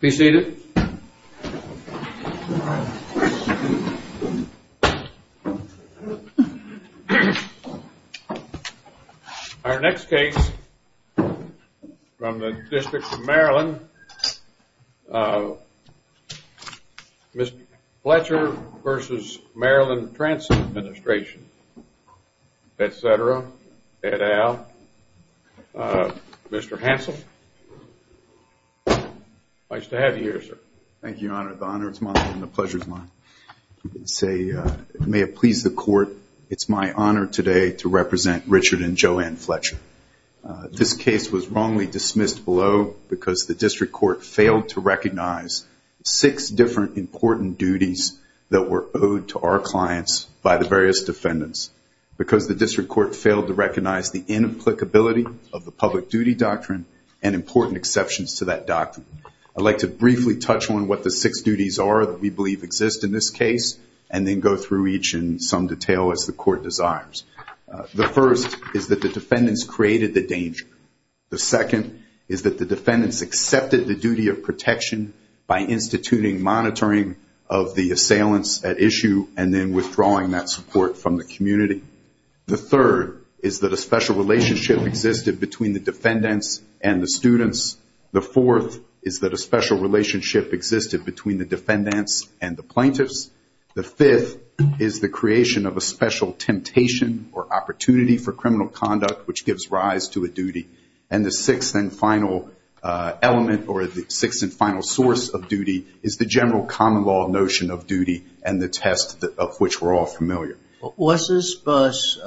Be seated. Our next case from the District of Maryland, Mr. Fletcher v. Maryland Transit Administration, Mr. Hansel, nice to have you here, sir. Thank you, Your Honor. The honor is mine and the pleasure is mine. May it please the court, it's my honor today to represent Richard and Joanne Fletcher. This case was wrongly dismissed below because the district court failed to recognize six different important duties that were owed to our clients by the various defendants. Because the district court failed to recognize the inapplicability of the public duty doctrine and important exceptions to that doctrine. I'd like to briefly touch on what the six duties are that we believe exist in this case and then go through each in some detail as the court desires. The first is that the defendants created the danger. The second is that the defendants accepted the duty of protection by instituting monitoring of the assailants at issue and then withdrawing that support from the community. The third is that a special relationship existed between the defendants and the students. The fourth is that a special relationship existed between the defendants and the plaintiffs. The fifth is the creation of a special temptation or opportunity for criminal conduct, which gives rise to a duty. And the sixth and final element or the sixth and final source of duty is the general common law notion of duty and the test of which we're all familiar. Was this bus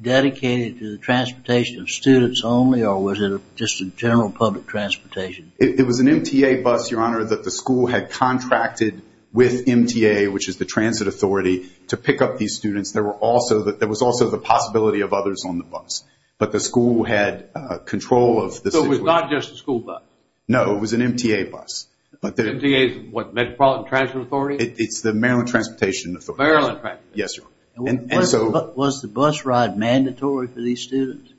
dedicated to the transportation of students only or was it just in general public transportation? It was an MTA bus, Your Honor, that the school had contracted with MTA, which is the transit authority, to pick up these students. There was also the possibility of others on the bus. But the school had control of the situation. So it was not just a school bus? No, it was an MTA bus. MTA is what? Metropolitan Transit Authority? It's the Maryland Transportation Authority. Maryland Transportation Authority. Yes, sir. Was the bus ride mandatory for these students?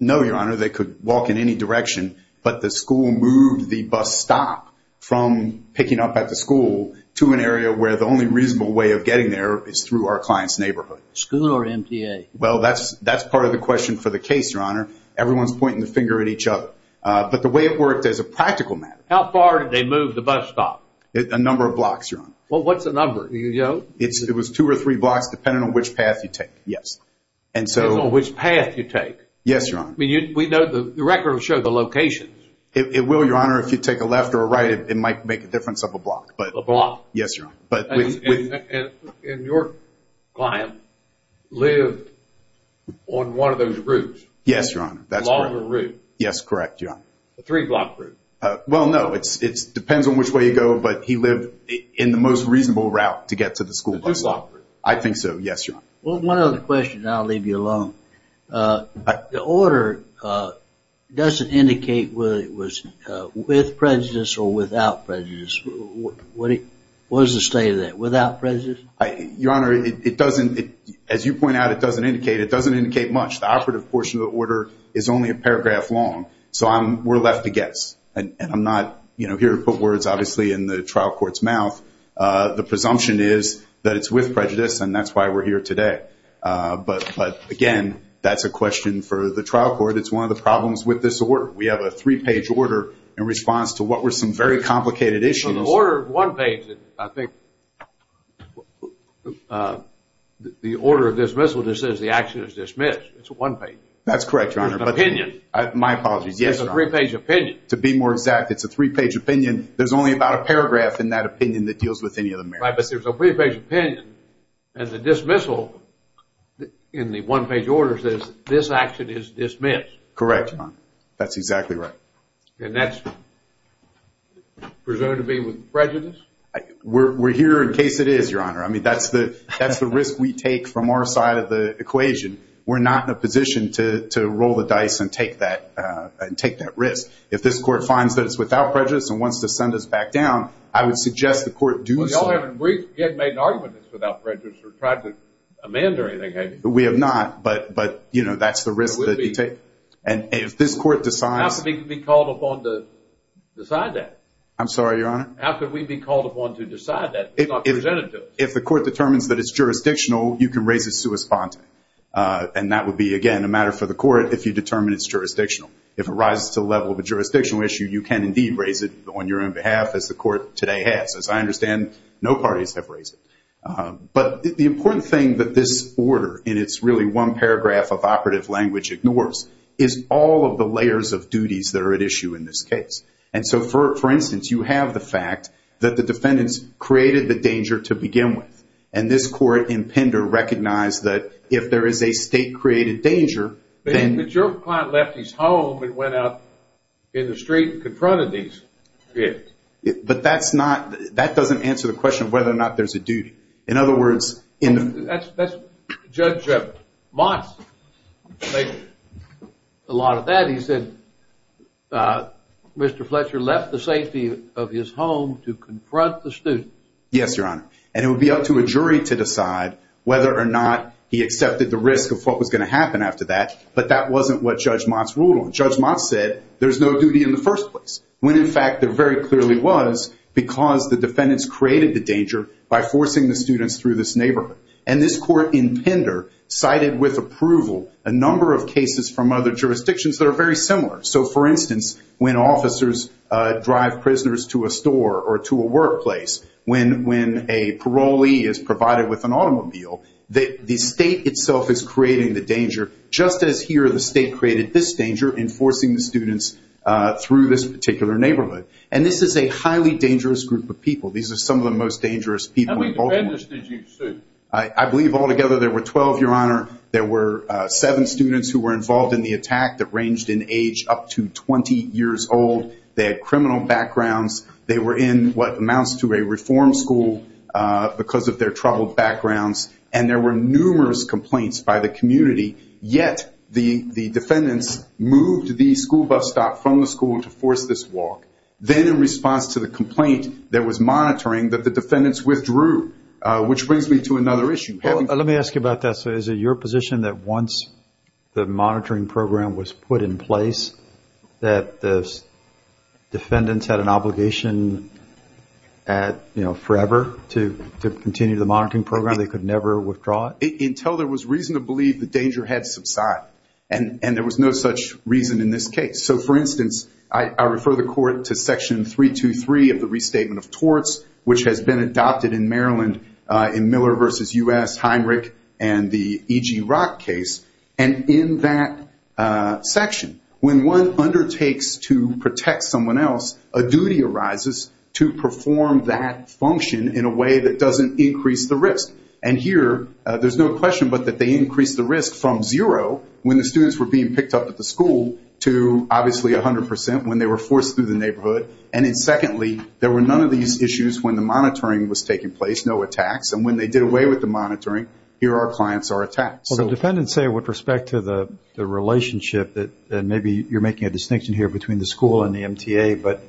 No, Your Honor. They could walk in any direction. But the school moved the bus stop from picking up at the school to an area where the only reasonable way of getting there is through our client's neighborhood. School or MTA? Well, that's part of the question for the case, Your Honor. Everyone's pointing the finger at each other. But the way it worked as a practical matter. How far did they move the bus stop? A number of blocks, Your Honor. Well, what's the number? It was two or three blocks depending on which path you take, yes. Depending on which path you take? Yes, Your Honor. We know the record will show the locations. It will, Your Honor. If you take a left or a right, it might make a difference of a block. A block? Yes, Your Honor. And your client lived on one of those routes? Yes, Your Honor. A longer route? Yes, correct, Your Honor. A three-block route? Well, no. It depends on which way you go. But he lived in the most reasonable route to get to the school bus stop. A two-block route? I think so, yes, Your Honor. Well, one other question, and I'll leave you alone. The order doesn't indicate whether it was with prejudice or without prejudice. What is the state of that, without prejudice? Your Honor, it doesn't. As you point out, it doesn't indicate. It doesn't indicate much. The operative portion of the order is only a paragraph long, so we're left to guess. And I'm not here to put words, obviously, in the trial court's mouth. The presumption is that it's with prejudice, and that's why we're here today. But, again, that's a question for the trial court. It's one of the problems with this order. We have a three-page order in response to what were some very complicated issues. Well, the order is one page. I think the order of dismissal just says the action is dismissed. It's one page. That's correct, Your Honor. It's an opinion. My apologies, yes, Your Honor. It's a three-page opinion. To be more exact, it's a three-page opinion. There's only about a paragraph in that opinion that deals with any of the merits. Right, but there's a three-page opinion. And the dismissal in the one-page order says this action is dismissed. Correct, Your Honor. That's exactly right. And that's presumed to be with prejudice? We're here in case it is, Your Honor. I mean, that's the risk we take from our side of the equation. We're not in a position to roll the dice and take that risk. If this court finds that it's without prejudice and wants to send us back down, I would suggest the court do so. We haven't made an argument that it's without prejudice or tried to amend or anything, have you? We have not, but, you know, that's the risk that you take. How can we be called upon to decide that? I'm sorry, Your Honor? How can we be called upon to decide that? It's not presented to us. If the court determines that it's jurisdictional, you can raise it sui sponte. And that would be, again, a matter for the court if you determine it's jurisdictional. If it rises to the level of a jurisdictional issue, you can indeed raise it on your own behalf as the court today has. As I understand, no parties have raised it. But the important thing that this order, and it's really one paragraph of operative language ignores, is all of the layers of duties that are at issue in this case. And so, for instance, you have the fact that the defendants created the danger to begin with. And this court in Pender recognized that if there is a state-created danger, then… But your client left his home and went out in the street and confronted these kids. But that's not… That doesn't answer the question of whether or not there's a duty. In other words, in the… Judge Motz said a lot of that. He said Mr. Fletcher left the safety of his home to confront the students. Yes, Your Honor. And it would be up to a jury to decide whether or not he accepted the risk of what was going to happen after that. But that wasn't what Judge Motz ruled on. Judge Motz said there's no duty in the first place. When, in fact, there very clearly was because the defendants created the danger by forcing the students through this neighborhood. And this court in Pender cited with approval a number of cases from other jurisdictions that are very similar. So, for instance, when officers drive prisoners to a store or to a workplace, when a parolee is provided with an automobile, the state itself is creating the danger, just as here the state created this danger in forcing the students through this particular neighborhood. And this is a highly dangerous group of people. These are some of the most dangerous people in Baltimore. How many defendants did you sue? I believe altogether there were 12, Your Honor. There were seven students who were involved in the attack that ranged in age up to 20 years old. They had criminal backgrounds. They were in what amounts to a reform school because of their troubled backgrounds. And there were numerous complaints by the community. Yet the defendants moved the school bus stop from the school to force this walk. Then in response to the complaint that was monitoring that the defendants withdrew, which brings me to another issue. Let me ask you about that. So is it your position that once the monitoring program was put in place, that the defendants had an obligation forever to continue the monitoring program? They could never withdraw it? Until there was reason to believe the danger had subsided. And there was no such reason in this case. So, for instance, I refer the Court to Section 323 of the Restatement of Torts, which has been adopted in Maryland in Miller v. U.S., Heinrich, and the E.G. Rock case. And in that section, when one undertakes to protect someone else, a duty arises to perform that function in a way that doesn't increase the risk. And here there's no question but that they increase the risk from zero when the students were being picked up at the school to obviously 100 percent when they were forced through the neighborhood. And then secondly, there were none of these issues when the monitoring was taking place, no attacks. And when they did away with the monitoring, here our clients are attacked. Well, the defendants say with respect to the relationship that maybe you're making a distinction here between the school and the MTA, but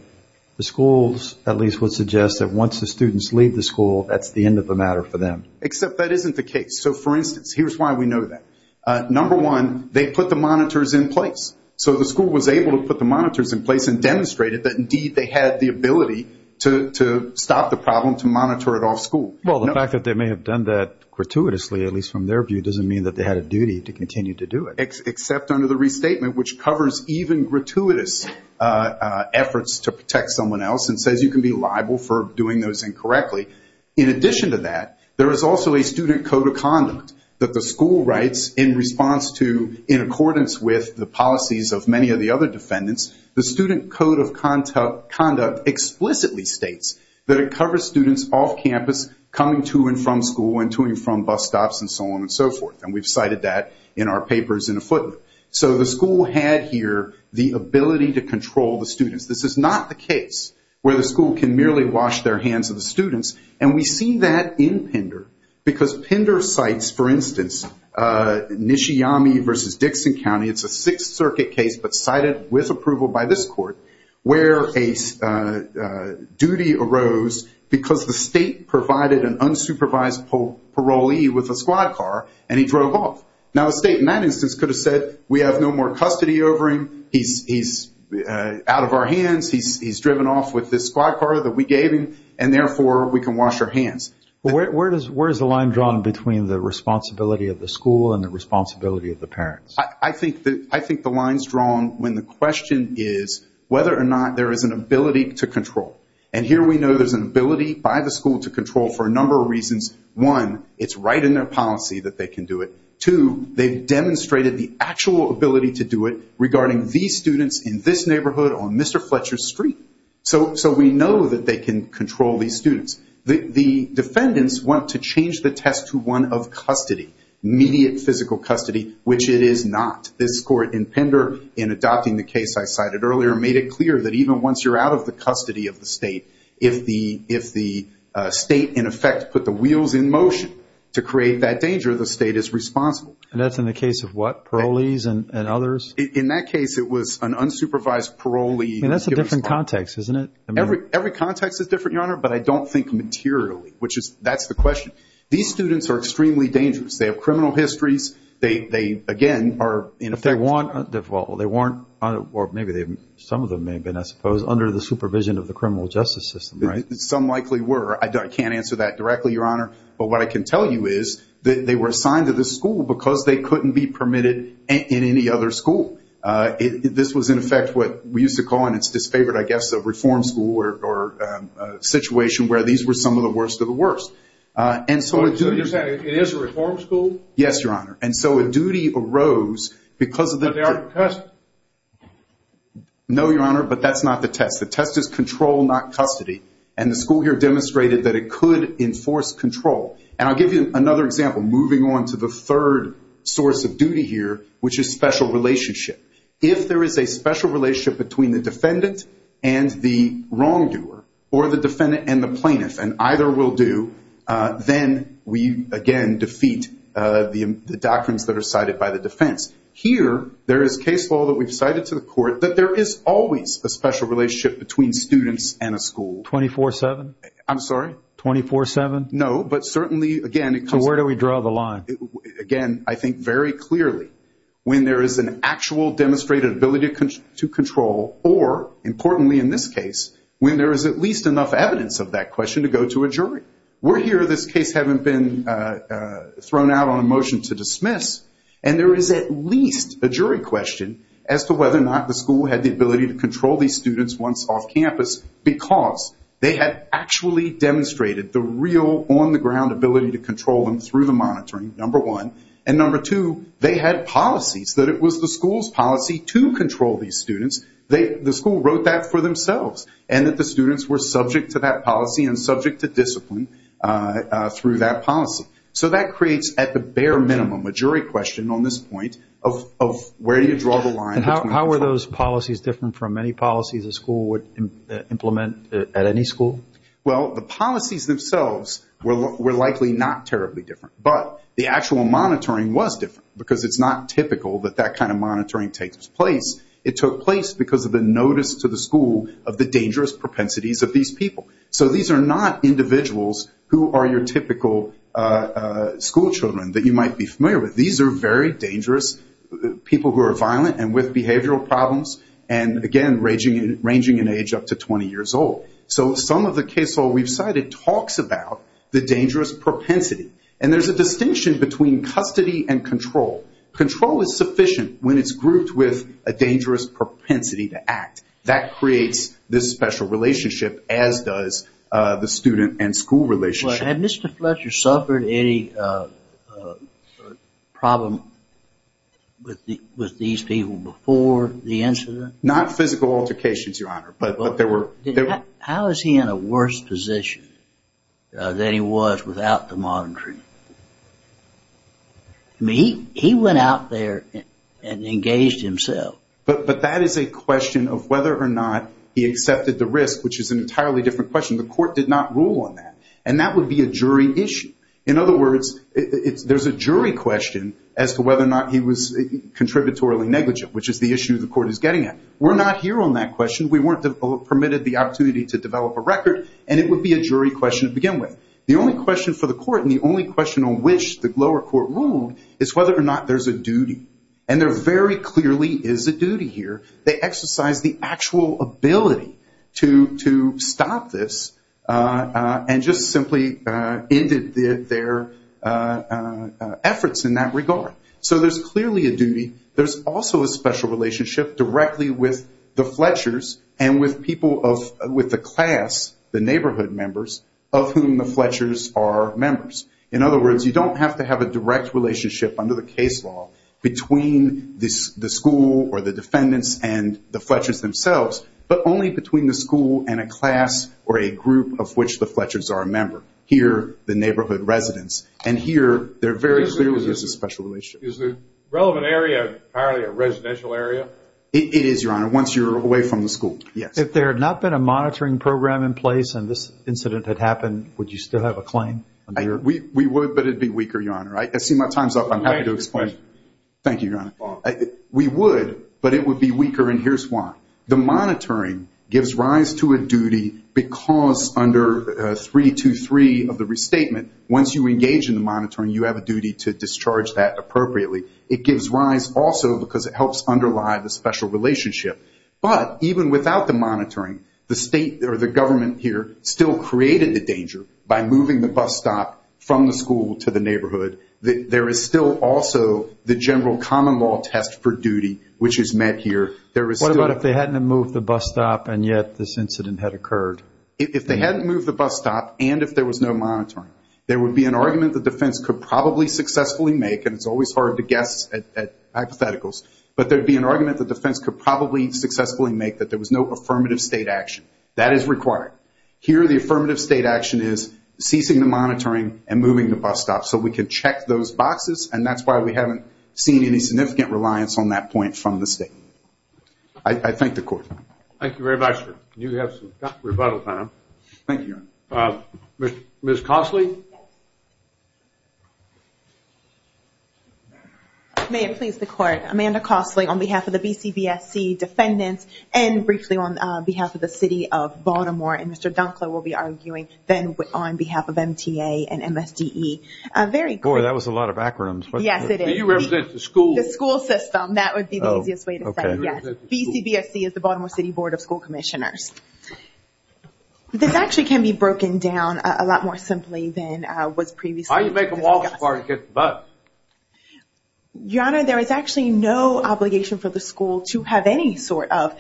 the schools at least would suggest that once the students leave the school, that's the end of the matter for them. Except that isn't the case. So, for instance, here's why we know that. Number one, they put the monitors in place. So the school was able to put the monitors in place and demonstrated that indeed they had the ability to stop the problem, to monitor it off school. Well, the fact that they may have done that gratuitously, at least from their view, doesn't mean that they had a duty to continue to do it. Except under the restatement, which covers even gratuitous efforts to protect someone else and says you can be liable for doing those incorrectly. In addition to that, there is also a student code of conduct that the school writes in response to, in accordance with the policies of many of the other defendants, the student code of conduct explicitly states that it covers students off campus coming to and from school and to and from bus stops and so on and so forth. And we've cited that in our papers in a footnote. So the school had here the ability to control the students. This is not the case where the school can merely wash their hands of the students. And we see that in Pender because Pender cites, for instance, Nishiyama v. Dixon County. It's a Sixth Circuit case but cited with approval by this court where a duty arose because the state provided an unsupervised parolee with a squad car and he drove off. Now the state in that instance could have said we have no more custody over him, he's out of our hands, he's driven off with this squad car that we gave him, and therefore we can wash our hands. Where is the line drawn between the responsibility of the school and the responsibility of the parents? I think the line is drawn when the question is whether or not there is an ability to control. And here we know there's an ability by the school to control for a number of reasons. One, it's right in their policy that they can do it. Two, they've demonstrated the actual ability to do it regarding these students in this neighborhood on Mr. Fletcher Street. So we know that they can control these students. The defendants want to change the test to one of custody, immediate physical custody, which it is not. This court in Pender in adopting the case I cited earlier made it clear that even once you're out of the custody of the state, if the state in effect put the wheels in motion to create that danger, the state is responsible. And that's in the case of what? Parolees and others? In that case it was an unsupervised parolee. And that's a different context, isn't it? Every context is different, Your Honor, but I don't think materially, which is that's the question. These students are extremely dangerous. They have criminal histories. They, again, are in effect- If they weren't, or maybe some of them may have been, I suppose, under the supervision of the criminal justice system, right? Some likely were. I can't answer that directly, Your Honor. But what I can tell you is that they were assigned to this school because they couldn't be permitted in any other school. This was, in effect, what we used to call in its disfavored, I guess, reform school or situation where these were some of the worst of the worst. So you're saying it is a reform school? Yes, Your Honor. And so a duty arose because of the- But they aren't in custody? No, Your Honor, but that's not the test. The test is control, not custody. And the school here demonstrated that it could enforce control. And I'll give you another example, moving on to the third source of duty here, which is special relationship. If there is a special relationship between the defendant and the wrongdoer, or the defendant and the plaintiff, and either will do, then we, again, defeat the doctrines that are cited by the defense. Here, there is case law that we've cited to the court that there is always a special relationship between students and a school. 24-7? I'm sorry? 24-7? No, but certainly, again, it comes- So where do we draw the line? Again, I think very clearly, when there is an actual demonstrated ability to control, or importantly in this case, when there is at least enough evidence of that question to go to a jury. We're here. This case hasn't been thrown out on a motion to dismiss, and there is at least a jury question as to whether or not the school had the ability to control these students once off campus because they had actually demonstrated the real on-the-ground ability to control them through the monitoring, number one. And number two, they had policies, that it was the school's policy to control these students. The school wrote that for themselves, and that the students were subject to that policy and subject to discipline through that policy. So that creates, at the bare minimum, a jury question on this point of where do you draw the line between- How were those policies different from any policies a school would implement at any school? Well, the policies themselves were likely not terribly different, but the actual monitoring was different because it's not typical that that kind of monitoring takes place. It took place because of the notice to the school of the dangerous propensities of these people. So these are not individuals who are your typical school children that you might be familiar with. These are very dangerous people who are violent and with behavioral problems and, again, ranging in age up to 20 years old. So some of the case law we've cited talks about the dangerous propensity. And there's a distinction between custody and control. Control is sufficient when it's grouped with a dangerous propensity to act. That creates this special relationship, as does the student and school relationship. Had Mr. Fletcher suffered any problem with these people before the incident? Not physical altercations, Your Honor, but there were- How is he in a worse position than he was without the monitoring? I mean, he went out there and engaged himself. But that is a question of whether or not he accepted the risk, which is an entirely different question. The court did not rule on that, and that would be a jury issue. In other words, there's a jury question as to whether or not he was contributorily negligent, which is the issue the court is getting at. We're not here on that question. We weren't permitted the opportunity to develop a record, and it would be a jury question to begin with. The only question for the court and the only question on which the lower court ruled is whether or not there's a duty. And there very clearly is a duty here. They exercised the actual ability to stop this and just simply ended their efforts in that regard. So there's clearly a duty. There's also a special relationship directly with the Fletchers and with the class, the neighborhood members, of whom the Fletchers are members. In other words, you don't have to have a direct relationship under the case law between the school or the defendants and the Fletchers themselves, but only between the school and a class or a group of which the Fletchers are a member, here the neighborhood residents. And here there very clearly is a special relationship. Is the relevant area apparently a residential area? It is, Your Honor, once you're away from the school, yes. If there had not been a monitoring program in place and this incident had happened, would you still have a claim? We would, but it would be weaker, Your Honor. I see my time's up. I'm happy to explain. Thank you, Your Honor. We would, but it would be weaker, and here's why. The monitoring gives rise to a duty because under 323 of the restatement, once you engage in the monitoring, you have a duty to discharge that appropriately. It gives rise also because it helps underlie the special relationship. But even without the monitoring, the state or the government here still created the danger by moving the bus stop from the school to the neighborhood. There is still also the general common law test for duty, which is met here. What about if they hadn't moved the bus stop and yet this incident had occurred? If they hadn't moved the bus stop and if there was no monitoring, there would be an argument the defense could probably successfully make, and it's always hard to guess at hypotheticals, but there would be an argument the defense could probably successfully make that there was no affirmative state action. That is required. Here the affirmative state action is ceasing the monitoring and moving the bus stop so we can check those boxes, and that's why we haven't seen any significant reliance on that point from the state. I thank the Court. Thank you very much, sir. You have some rebuttal time. Thank you, Your Honor. Ms. Cosley? May it please the Court. Amanda Cosley on behalf of the BCBSC defendants and briefly on behalf of the City of Baltimore, and Mr. Dunkler will be arguing then on behalf of MTA and MSDE. Boy, that was a lot of acronyms. Yes, it is. Do you represent the school? The school system, that would be the easiest way to say yes. BCBSC is the Baltimore City Board of School Commissioners. This actually can be broken down a lot more simply than was previously discussed. How do you make them walk so far to get the bus? Your Honor, there is actually no obligation for the school to have any sort of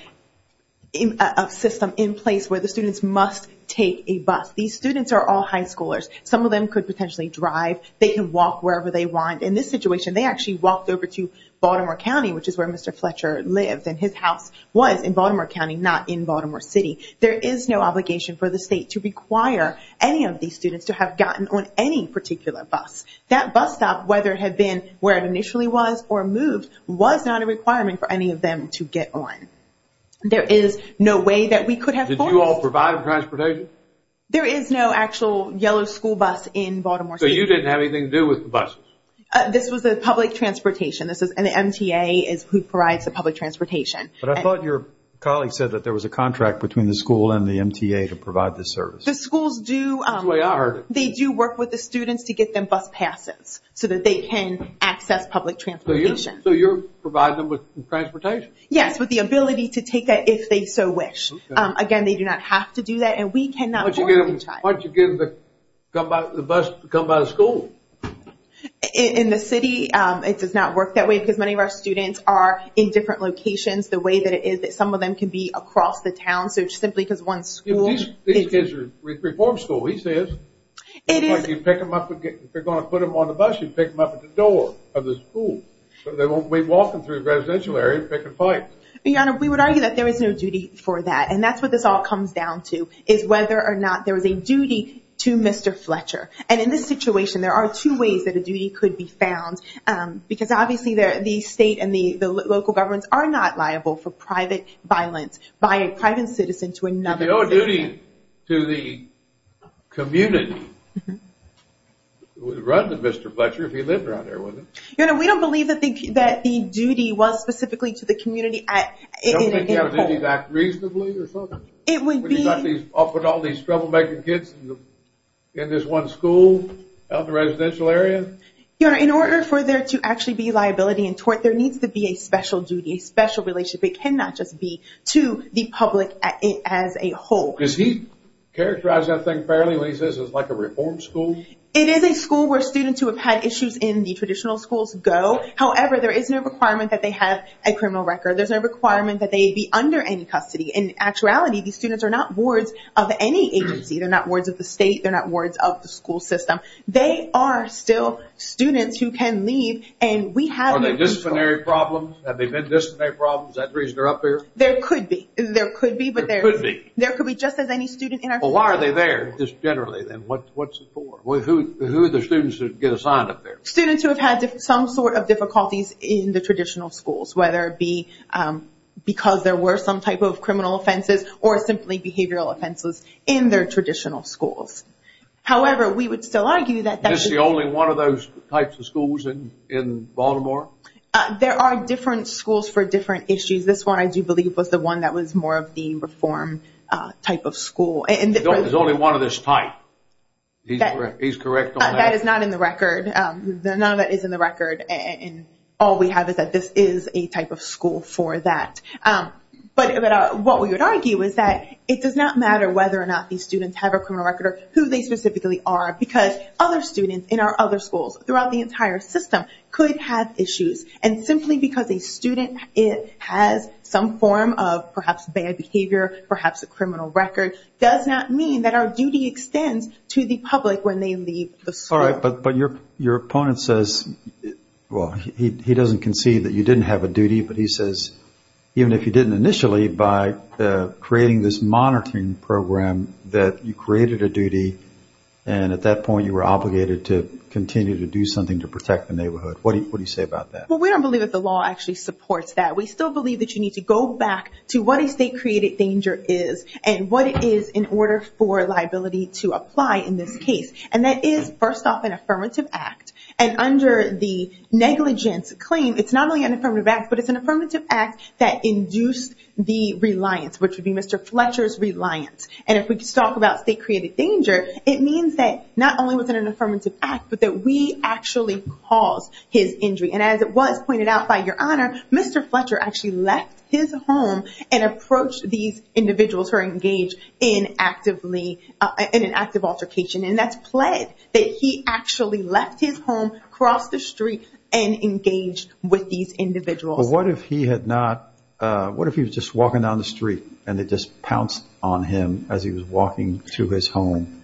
system in place where the students must take a bus. These students are all high schoolers. Some of them could potentially drive. They can walk wherever they want. In this situation, they actually walked over to Baltimore County, which is where Mr. Fletcher lived, and his house was in Baltimore County, not in Baltimore City. There is no obligation for the state to require any of these students to have gotten on any particular bus. That bus stop, whether it had been where it initially was or moved, was not a requirement for any of them to get on. There is no way that we could have forced them. Did you all provide transportation? There is no actual yellow school bus in Baltimore City. So you didn't have anything to do with the buses? This was the public transportation, and the MTA is who provides the public transportation. But I thought your colleague said that there was a contract between the school and the MTA to provide this service. The schools do. That's the way I heard it. They do work with the students to get them bus passes so that they can access public transportation. So you're providing them with transportation? Yes, with the ability to take it if they so wish. Again, they do not have to do that, and we cannot force each other. Why don't you get the bus to come by the school? In the city, it does not work that way because many of our students are in different locations, the way that it is that some of them can be across the town. These kids are reform school, he says. If you're going to put them on the bus, you pick them up at the door of the school. So they won't be walking through the residential area picking fights. Your Honor, we would argue that there is no duty for that, and that's what this all comes down to, is whether or not there is a duty to Mr. Fletcher. And in this situation, there are two ways that a duty could be found because obviously the state and the local governments are not liable for private violence by a private citizen to another citizen. If you owe a duty to the community, it would run to Mr. Fletcher if he lived around there, wouldn't it? Your Honor, we don't believe that the duty was specifically to the community. Don't you think you have a duty to act reasonably or something? It would be... Would you not put all these troublemaking kids in this one school out in the residential area? Your Honor, in order for there to actually be liability and tort, there needs to be a special duty, a special relationship. It cannot just be to the public as a whole. Does he characterize that thing fairly when he says it's like a reform school? It is a school where students who have had issues in the traditional schools go. However, there is no requirement that they have a criminal record. There's no requirement that they be under any custody. In actuality, these students are not wards of any agency. They're not wards of the state. They're not wards of the school system. They are still students who can leave, and we have... Are they disciplinary problems? Have they been disciplinary problems? Is that the reason they're up here? There could be. There could be, but there's... There could be. There could be, just as any student in our... Well, why are they there, just generally, then? What's it for? Who are the students who get assigned up there? Students who have had some sort of difficulties in the traditional schools, whether it be because there were some type of criminal offenses or simply behavioral offenses in their traditional schools. However, we would still argue that... Is this the only one of those types of schools in Baltimore? There are different schools for different issues. This one, I do believe, was the one that was more of the reform type of school. There's only one of this type. He's correct on that. That is not in the record. None of that is in the record, and all we have is that this is a type of school for that. But what we would argue is that it does not matter whether or not these students have a criminal record or who they specifically are because other students in our other schools throughout the entire system could have issues. And simply because a student has some form of perhaps bad behavior, perhaps a criminal record, does not mean that our duty extends to the public when they leave the school. All right, but your opponent says... Well, he doesn't concede that you didn't have a duty, but he says even if you didn't initially, by creating this monitoring program that you created a duty and at that point you were obligated to continue to do something to protect the neighborhood. What do you say about that? Well, we don't believe that the law actually supports that. We still believe that you need to go back to what a state-created danger is and what it is in order for liability to apply in this case. And that is, first off, an affirmative act. And under the negligence claim, it's not only an affirmative act, but it's an affirmative act that induced the reliance, which would be Mr. Fletcher's reliance. And if we just talk about state-created danger, it means that not only was it an affirmative act, but that we actually caused his injury. And as it was pointed out by Your Honor, Mr. Fletcher actually left his home and approached these individuals who are engaged in an act of altercation. And that's pled that he actually left his home, crossed the street, and engaged with these individuals. But what if he had not? What if he was just walking down the street and they just pounced on him as he was walking to his home?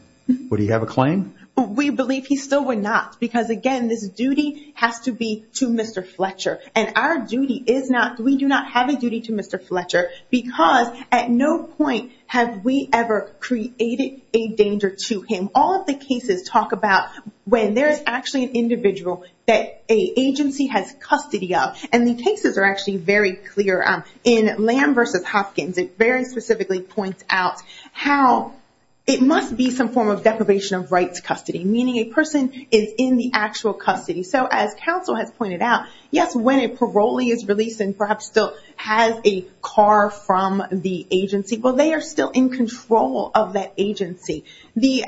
Would he have a claim? We believe he still would not because, again, this duty has to be to Mr. Fletcher. And our duty is not, we do not have a duty to Mr. Fletcher because at no point have we ever created a danger to him. All of the cases talk about when there's actually an individual that an agency has custody of. And the cases are actually very clear. In Lamb v. Hopkins, it very specifically points out how it must be some form of deprivation of rights custody, meaning a person is in the actual custody. So as counsel has pointed out, yes, when a parolee is released and perhaps still has a car from the agency, well, they are still in control of that agency. The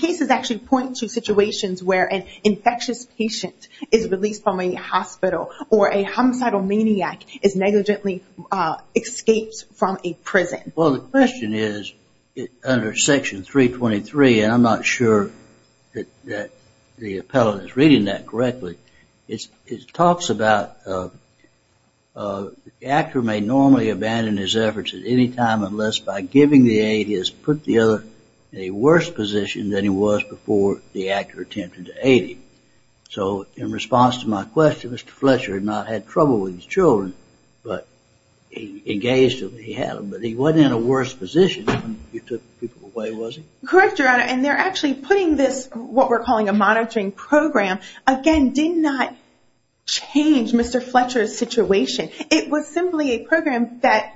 cases actually point to situations where an infectious patient is released from a hospital or a homicidal maniac is negligently escaped from a prison. Well, the question is, under Section 323, and I'm not sure that the appellant is reading that correctly, it talks about the actor may normally abandon his efforts at any time unless by giving the aid he has put the other in a worse position than he was before the actor attempted to aid him. So in response to my question, Mr. Fletcher had not had trouble with his children, but he engaged them when he had them. But he wasn't in a worse position when you took the people away, was he? Correct, Your Honor. And they're actually putting this, what we're calling a monitoring program, again, did not change Mr. Fletcher's situation. It was simply a program that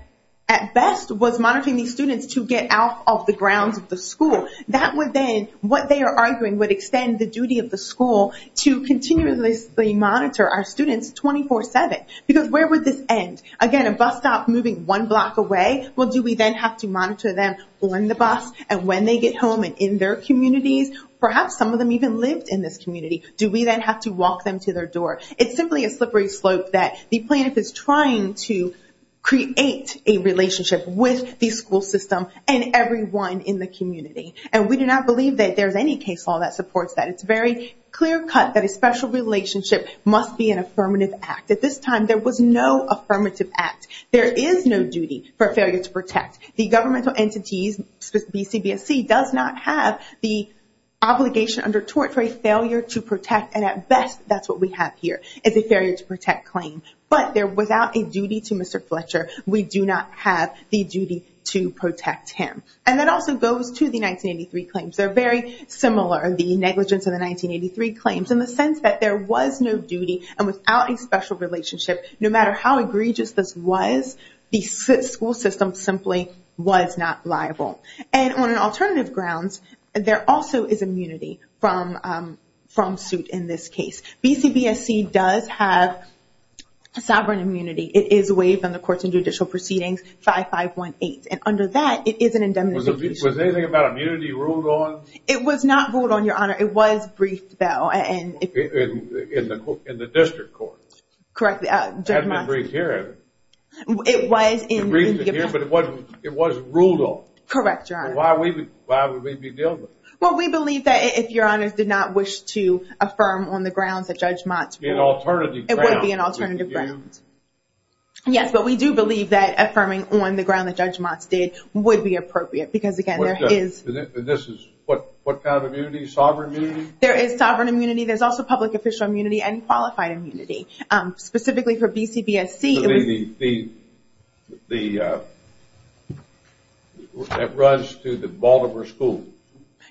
at best was monitoring these students to get out of the grounds of the school. That would then, what they are arguing, would extend the duty of the school to continuously monitor our students 24-7. Because where would this end? Again, a bus stop moving one block away, well, do we then have to monitor them on the bus and when they get home and in their communities? Perhaps some of them even lived in this community. Do we then have to walk them to their door? It's simply a slippery slope that the plaintiff is trying to create a relationship with the school system and everyone in the community. And we do not believe that there's any case law that supports that. It's very clear-cut that a special relationship must be an affirmative act. At this time, there was no affirmative act. There is no duty for failure to protect. The governmental entities, specifically CBSC, does not have the obligation under tort for a failure to protect. And at best, that's what we have here, is a failure to protect claim. But without a duty to Mr. Fletcher, we do not have the duty to protect him. And that also goes to the 1983 claims. They're very similar, the negligence of the 1983 claims, in the sense that there was no duty. And without a special relationship, no matter how egregious this was, the school system simply was not liable. And on alternative grounds, there also is immunity from suit in this case. BCBSC does have sovereign immunity. It is waived under Courts and Judicial Proceedings 5518. And under that, it is an indemnification. Was anything about immunity ruled on? It was not ruled on, Your Honor. It was briefed, though. In the district court? Correct. It hasn't been briefed here, has it? It was in the district court. It was ruled on. Correct, Your Honor. Why would we be dealing with it? Well, we believe that if Your Honors did not wish to affirm on the grounds that Judge Mott's rule, it would be an alternative grounds. Yes, but we do believe that affirming on the ground that Judge Mott's did would be appropriate because, again, there is – And this is what kind of immunity? Sovereign immunity? There is sovereign immunity. There's also public official immunity and qualified immunity. Specifically for BCBSC, it was – So that runs to the Baltimore school?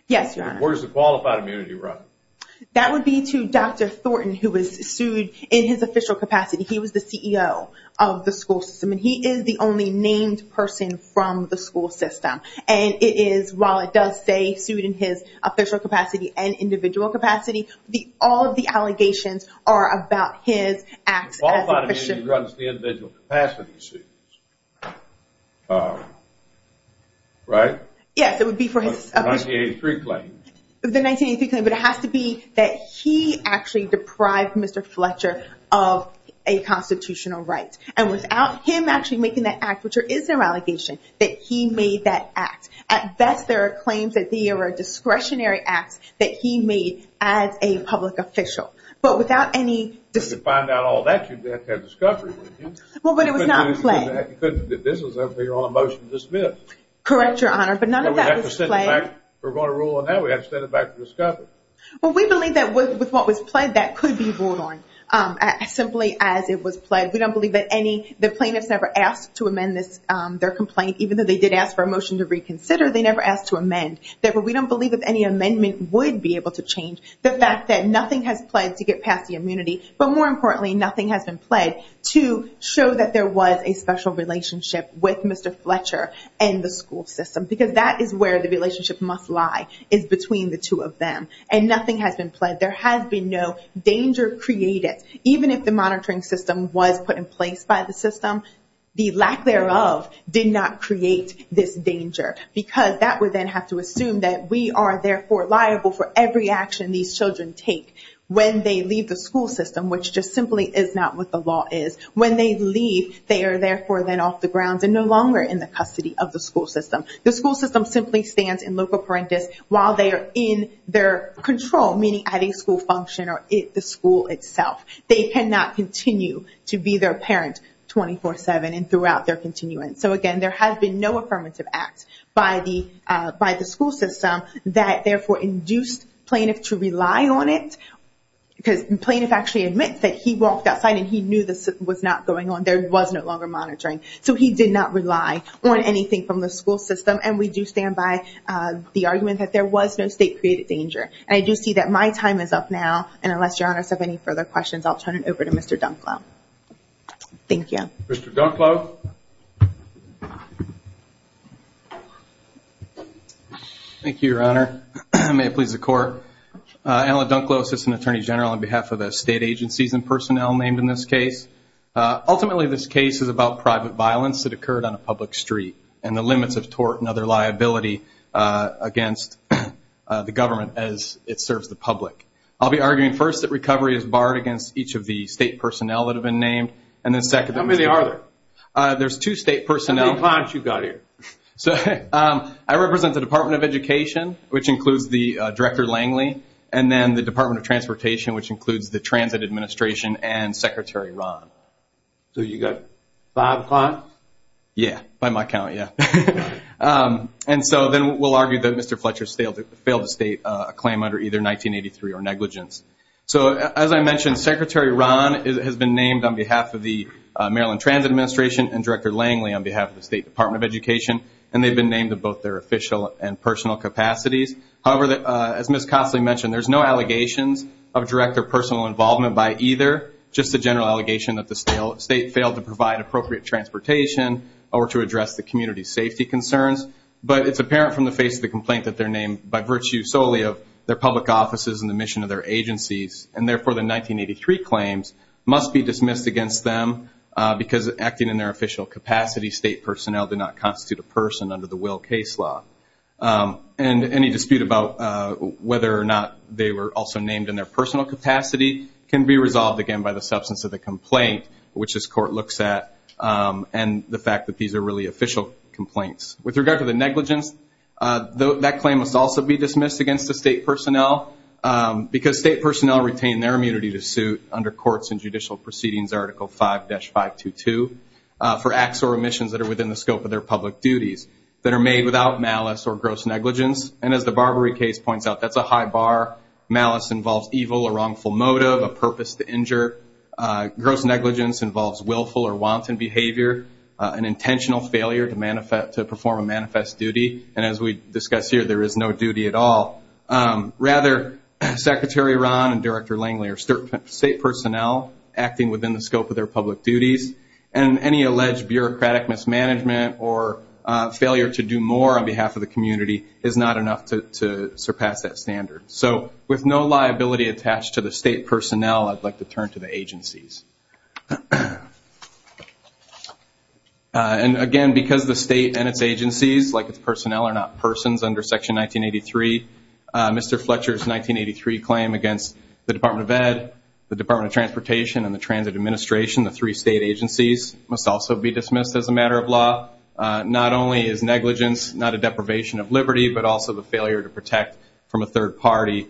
Yes, Your Honor. Where does the qualified immunity run? That would be to Dr. Thornton, who was sued in his official capacity. He was the CEO of the school system, and he is the only named person from the school system. And it is – while it does say sued in his official capacity and individual capacity, all of the allegations are about his acts as an official – Qualified immunity runs to the individual capacity, right? Yes, it would be for his official – The 1983 claim. The 1983 claim, but it has to be that he actually deprived Mr. Fletcher of a constitutional right. And without him actually making that act, which there is no allegation, that he made that act. At best, there are claims that they are discretionary acts that he made as a public official. But without any – To find out all that, you'd have to have discovery, wouldn't you? Well, but it was not a play. You couldn't do that. You couldn't do that. This was a clear on a motion to dismiss. Correct, Your Honor, but none of that was play. We have to set it back. We're going to rule on that. We have to set it back to discovery. Well, we believe that with what was played, that could be ruled on simply as it was played. We don't believe that any – The plaintiffs never asked to amend their complaint. Even though they did ask for a motion to reconsider, they never asked to amend. Therefore, we don't believe that any amendment would be able to change the fact that nothing has played to get past the immunity. But more importantly, nothing has been played to show that there was a special relationship with Mr. Fletcher and the school system. Because that is where the relationship must lie, is between the two of them. And nothing has been played. There has been no danger created. Even if the monitoring system was put in place by the system, the lack thereof did not create this danger. Because that would then have to assume that we are therefore liable for every action these children take when they leave the school system, which just simply is not what the law is. When they leave, they are therefore then off the grounds and no longer in the custody of the school system. The school system simply stands in loco parentis while they are in their control, meaning at a school function or the school itself. They cannot continue to be their parent 24-7 and throughout their continuance. So again, there has been no affirmative act by the school system that therefore induced plaintiffs to rely on it. Because the plaintiff actually admits that he walked outside and he knew this was not going on. There was no longer monitoring. So he did not rely on anything from the school system. And we do stand by the argument that there was no state-created danger. And I do see that my time is up now. And unless Your Honor has any further questions, I'll turn it over to Mr. Dunklow. Thank you. Mr. Dunklow. Thank you, Your Honor. May it please the Court. Alan Dunklow, Assistant Attorney General on behalf of the state agencies and personnel named in this case. Ultimately, this case is about private violence that occurred on a public street and the limits of tort and other liability against the government as it serves the public. I'll be arguing first that recovery is barred against each of the state personnel that have been named. How many are there? There's two state personnel. How many clients have you got here? I represent the Department of Education, which includes the Director Langley, and then the Department of Transportation, which includes the Transit Administration and Secretary Rahn. So you've got five clients? Yeah, by my count, yeah. And so then we'll argue that Mr. Fletcher failed to state a claim under either 1983 or negligence. So as I mentioned, Secretary Rahn has been named on behalf of the Maryland Transit Administration and Director Langley on behalf of the State Department of Education. And they've been named in both their official and personal capacities. However, as Ms. Cossley mentioned, there's no allegations of direct or personal involvement by either, just the general allegation that the state failed to provide appropriate transportation or to address the community safety concerns. But it's apparent from the face of the complaint that they're named by virtue solely of their public offices and the mission of their agencies, and therefore the 1983 claims must be dismissed against them because acting in their official capacity, state personnel do not constitute a person under the Will case law. And any dispute about whether or not they were also named in their personal capacity can be resolved, again, by the substance of the complaint, which this court looks at, and the fact that these are really official complaints. With regard to the negligence, that claim must also be dismissed against the state personnel because state personnel retain their immunity to suit under Courts and Judicial Proceedings Article 5-522 for acts or omissions that are within the scope of their public duties, that are made without malice or gross negligence. And as the Barbary case points out, that's a high bar. Malice involves evil or wrongful motive, a purpose to injure. Gross negligence involves willful or wanton behavior, an intentional failure to perform a manifest duty. And as we discuss here, there is no duty at all. Rather, Secretary Rahn and Director Langley are state personnel acting within the scope of their public duties, and any alleged bureaucratic mismanagement or failure to do more on behalf of the community is not enough to surpass that standard. So with no liability attached to the state personnel, I'd like to turn to the agencies. And again, because the state and its agencies, like its personnel, are not persons under Section 1983, Mr. Fletcher's 1983 claim against the Department of Ed, the Department of Transportation, and the Transit Administration, the three state agencies, must also be dismissed as a matter of law. Not only is negligence not a deprivation of liberty, but also the failure to protect from a third party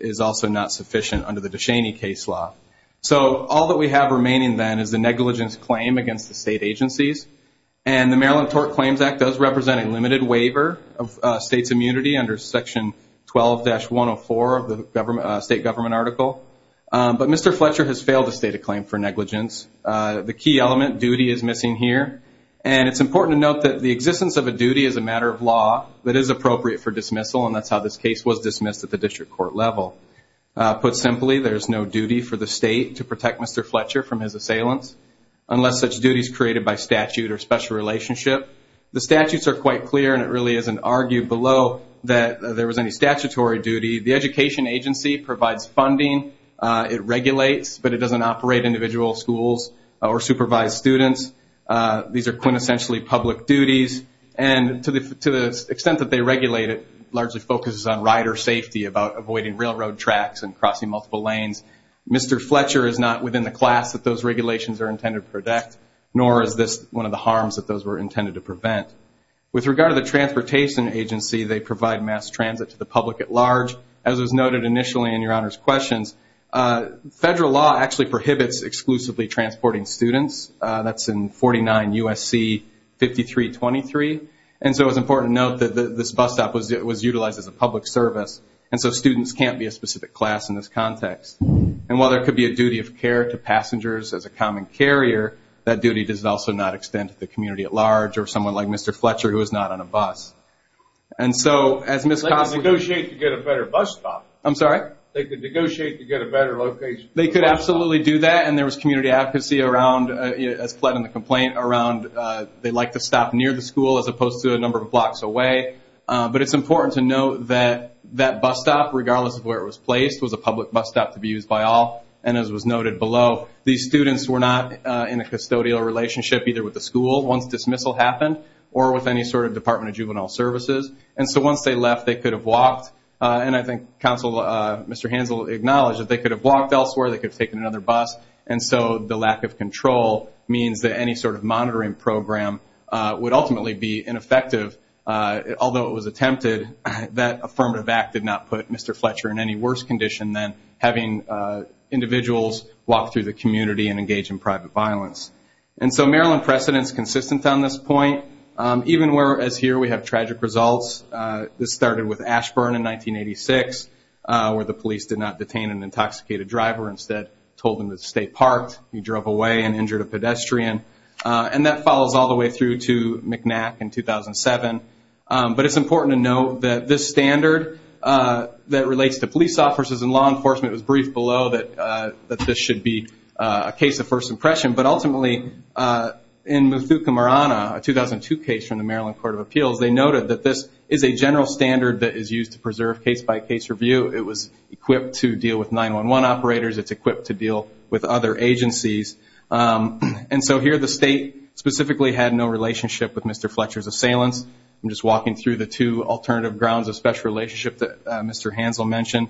is also not sufficient under the DeShaney case law. So all that we have remaining then is the negligence claim against the state agencies. And the Maryland Tort Claims Act does represent a limited waiver of states' immunity under Section 12-104 of the state government article. But Mr. Fletcher has failed to state a claim for negligence. The key element, duty, is missing here. And it's important to note that the existence of a duty is a matter of law that is appropriate for dismissal, and that's how this case was dismissed at the district court level. Put simply, there's no duty for the state to protect Mr. Fletcher from his assailants, unless such duty is created by statute or special relationship. The statutes are quite clear, and it really isn't argued below that there was any statutory duty. The education agency provides funding. It regulates, but it doesn't operate individual schools or supervise students. These are quintessentially public duties. And to the extent that they regulate it, it largely focuses on rider safety, about avoiding railroad tracks and crossing multiple lanes. Mr. Fletcher is not within the class that those regulations are intended to protect, nor is this one of the harms that those were intended to prevent. With regard to the transportation agency, they provide mass transit to the public at large. As was noted initially in Your Honor's questions, federal law actually prohibits exclusively transporting students. That's in 49 U.S.C. 5323. And so it's important to note that this bus stop was utilized as a public service, and so students can't be a specific class in this context. And while there could be a duty of care to passengers as a common carrier, that duty does also not extend to the community at large or someone like Mr. Fletcher who is not on a bus. And so as Ms. Costley... They could negotiate to get a better bus stop. I'm sorry? They could negotiate to get a better location. They could absolutely do that. And there was community advocacy around, as fled in the complaint, around they like to stop near the school as opposed to a number of blocks away. But it's important to note that that bus stop, regardless of where it was placed, was a public bus stop to be used by all. And as was noted below, these students were not in a custodial relationship either with the school, once dismissal happened, or with any sort of Department of Juvenile Services. And so once they left, they could have walked. And I think Mr. Hansel acknowledged that they could have walked elsewhere. They could have taken another bus. And so the lack of control means that any sort of monitoring program would ultimately be ineffective. Although it was attempted, that affirmative act did not put Mr. Fletcher in any worse condition than having individuals walk through the community and engage in private violence. And so Maryland precedent is consistent on this point. Even where, as here, we have tragic results. This started with Ashburn in 1986, where the police did not detain an intoxicated driver. Instead, told him to stay parked. He drove away and injured a pedestrian. And that follows all the way through to McNack in 2007. But it's important to note that this standard that relates to police officers and law enforcement was briefed below that this should be a case of first impression. But ultimately, in Muthukumarana, a 2002 case from the Maryland Court of Appeals, they noted that this is a general standard that is used to preserve case-by-case review. It was equipped to deal with 911 operators. It's equipped to deal with other agencies. And so here the state specifically had no relationship with Mr. Fletcher's assailants. I'm just walking through the two alternative grounds of special relationship that Mr. Hansel mentioned.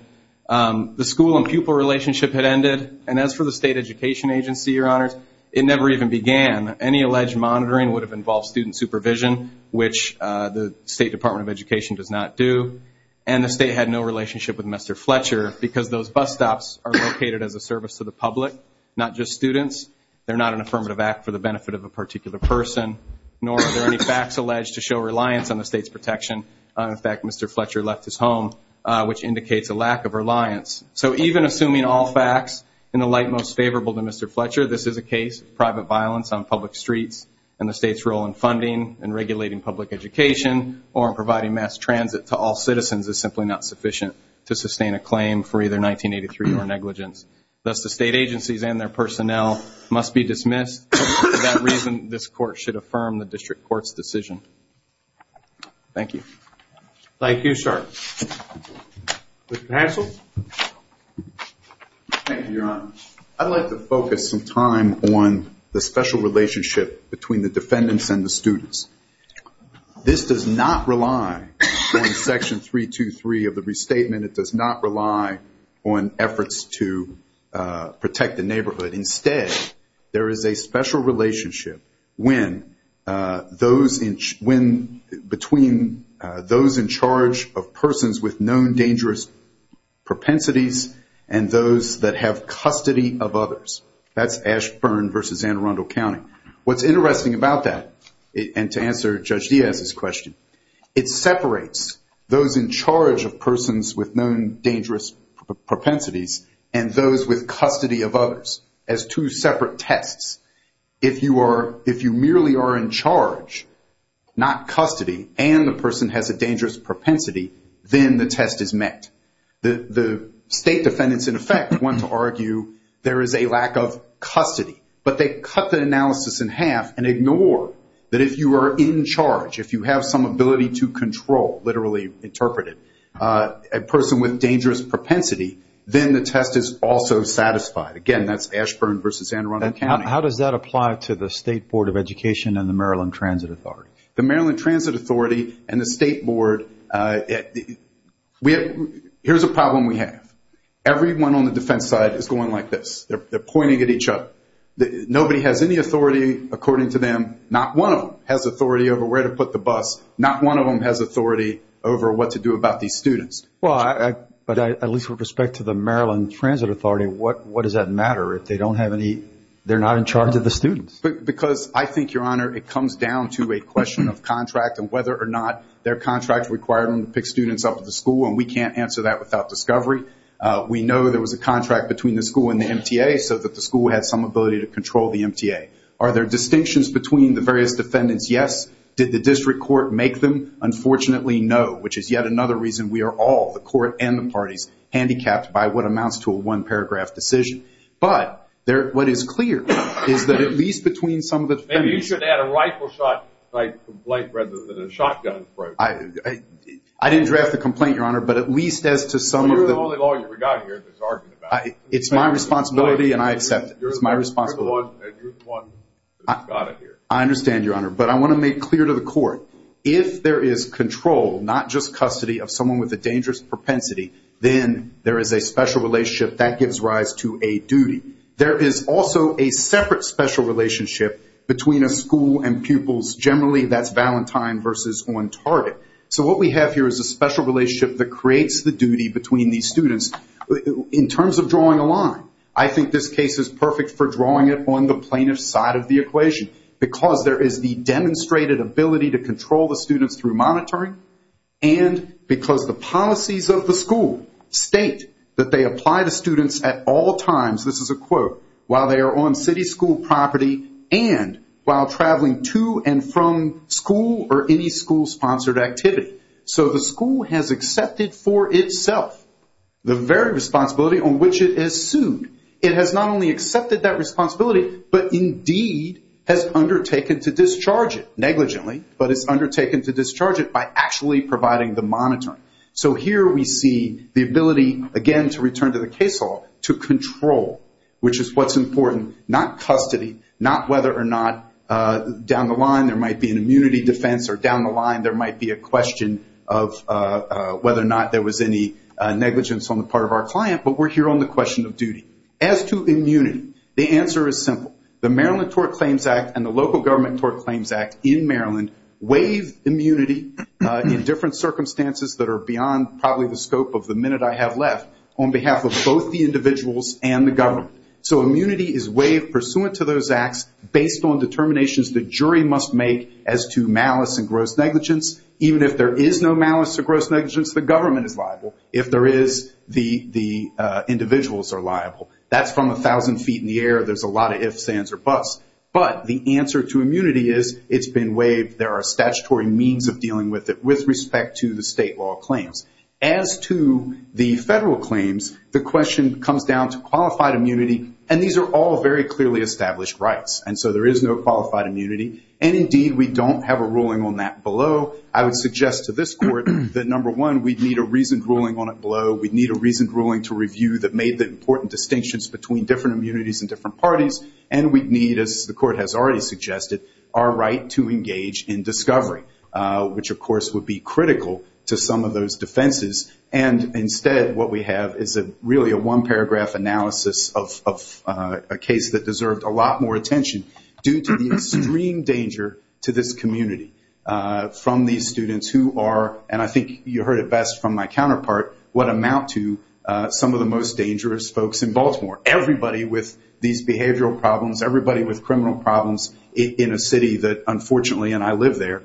The school and pupil relationship had ended. And as for the state education agency, Your Honors, it never even began. Any alleged monitoring would have involved student supervision, which the State Department of Education does not do. And the state had no relationship with Mr. Fletcher because those bus stops are located as a service to the public, not just students. They're not an affirmative act for the benefit of a particular person, nor are there any facts alleged to show reliance on the state's protection. In fact, Mr. Fletcher left his home, which indicates a lack of reliance. So even assuming all facts in the light most favorable to Mr. Fletcher, this is a case of private violence on public streets, and the state's role in funding and regulating public education or in providing mass transit to all citizens is simply not sufficient to sustain a claim for either 1983 or negligence. Thus, the state agencies and their personnel must be dismissed. For that reason, this court should affirm the district court's decision. Thank you. Mr. Hansel? Thank you, Your Honor. I'd like to focus some time on the special relationship between the defendants and the students. This does not rely on Section 323 of the restatement. It does not rely on efforts to protect the neighborhood. Instead, there is a special relationship between those in charge of persons with known dangerous propensities and those that have custody of others. That's Ashburn v. Anne Arundel County. What's interesting about that, and to answer Judge Diaz's question, it separates those in charge of persons with known dangerous propensities and those with custody of others as two separate tests. If you merely are in charge, not custody, and the person has a dangerous propensity, then the test is met. The state defendants, in effect, want to argue there is a lack of custody, but they cut the analysis in half and ignore that if you are in charge, if you have some ability to control, literally interpreted, a person with dangerous propensity, then the test is also satisfied. Again, that's Ashburn v. Anne Arundel County. How does that apply to the State Board of Education and the Maryland Transit Authority? The Maryland Transit Authority and the State Board, here's a problem we have. Everyone on the defense side is going like this. They're pointing at each other. Nobody has any authority according to them. Not one of them has authority over where to put the bus. Not one of them has authority over what to do about these students. But at least with respect to the Maryland Transit Authority, what does that matter? They're not in charge of the students. Because I think, Your Honor, it comes down to a question of contract and whether or not their contract required them to pick students up at the school, and we can't answer that without discovery. We know there was a contract between the school and the MTA so that the school had some ability to control the MTA. Are there distinctions between the various defendants? Yes. Did the district court make them? Unfortunately, no, which is yet another reason we are all, the court and the parties, handicapped by what amounts to a one-paragraph decision. But what is clear is that at least between some of the defendants Maybe you should add a rifle shot complaint rather than a shotgun complaint. I didn't draft the complaint, Your Honor, but at least as to some of the Well, you're the only lawyer we've got here that's arguing about it. It's my responsibility and I accept it. You're the only lawyer and you're the one that's got it here. I understand, Your Honor, but I want to make clear to the court, if there is control, not just custody, of someone with a dangerous propensity, then there is a special relationship that gives rise to a duty. There is also a separate special relationship between a school and pupils. Generally, that's Valentine versus on target. So what we have here is a special relationship that creates the duty between these students. In terms of drawing a line, I think this case is perfect for drawing it on the plaintiff's side of the equation because there is the demonstrated ability to control the students through monitoring and because the policies of the school state that they apply to students at all times, this is a quote, while they are on city school property and while traveling to and from school or any school-sponsored activity. So the school has accepted for itself the very responsibility on which it is sued. It has not only accepted that responsibility, but indeed has undertaken to discharge it, by actually providing the monitoring. So here we see the ability, again, to return to the case law, to control, which is what's important, not custody, not whether or not down the line there might be an immunity defense or down the line there might be a question of whether or not there was any negligence on the part of our client, but we're here on the question of duty. As to immunity, the answer is simple. The Maryland Tort Claims Act and the Local Government Tort Claims Act in Maryland waive immunity in different circumstances that are beyond probably the scope of the minute I have left on behalf of both the individuals and the government. So immunity is waived pursuant to those acts based on determinations the jury must make as to malice and gross negligence. Even if there is no malice or gross negligence, the government is liable. If there is, the individuals are liable. That's from 1,000 feet in the air. There's a lot of ifs, ands, or buts. But the answer to immunity is it's been waived. There are statutory means of dealing with it with respect to the state law claims. As to the federal claims, the question comes down to qualified immunity, and these are all very clearly established rights, and so there is no qualified immunity. And, indeed, we don't have a ruling on that below. I would suggest to this Court that, number one, we'd need a reasoned ruling on it below. We'd need a reasoned ruling to review that made the important distinctions between different immunities and different parties, and we'd need, as the Court has already suggested, our right to engage in discovery, which, of course, would be critical to some of those defenses. And, instead, what we have is really a one-paragraph analysis of a case that deserved a lot more attention due to the extreme danger to this community from these students who are, and I think you heard it best from my counterpart, what amount to some of the most dangerous folks in Baltimore. Everybody with these behavioral problems, everybody with criminal problems in a city that, unfortunately, and I live there,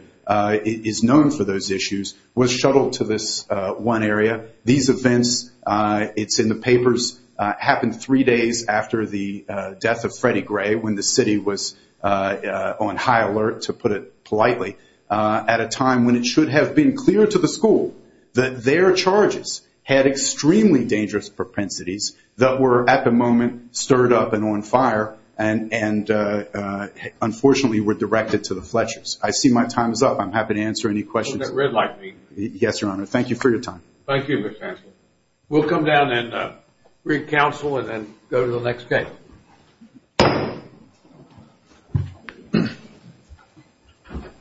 is known for those issues, was shuttled to this one area. These events, it's in the papers, happened three days after the death of Freddie Gray, when the city was on high alert, to put it politely, at a time when it should have been clear to the school that their charges had extremely dangerous propensities that were, at the moment, stirred up and on fire and, unfortunately, were directed to the Fletchers. I see my time is up. I'm happy to answer any questions. Hold that red light, please. Yes, Your Honor. Thank you for your time. Thank you, Mr. Chancellor. We'll come down and re-counsel and then go to the next case.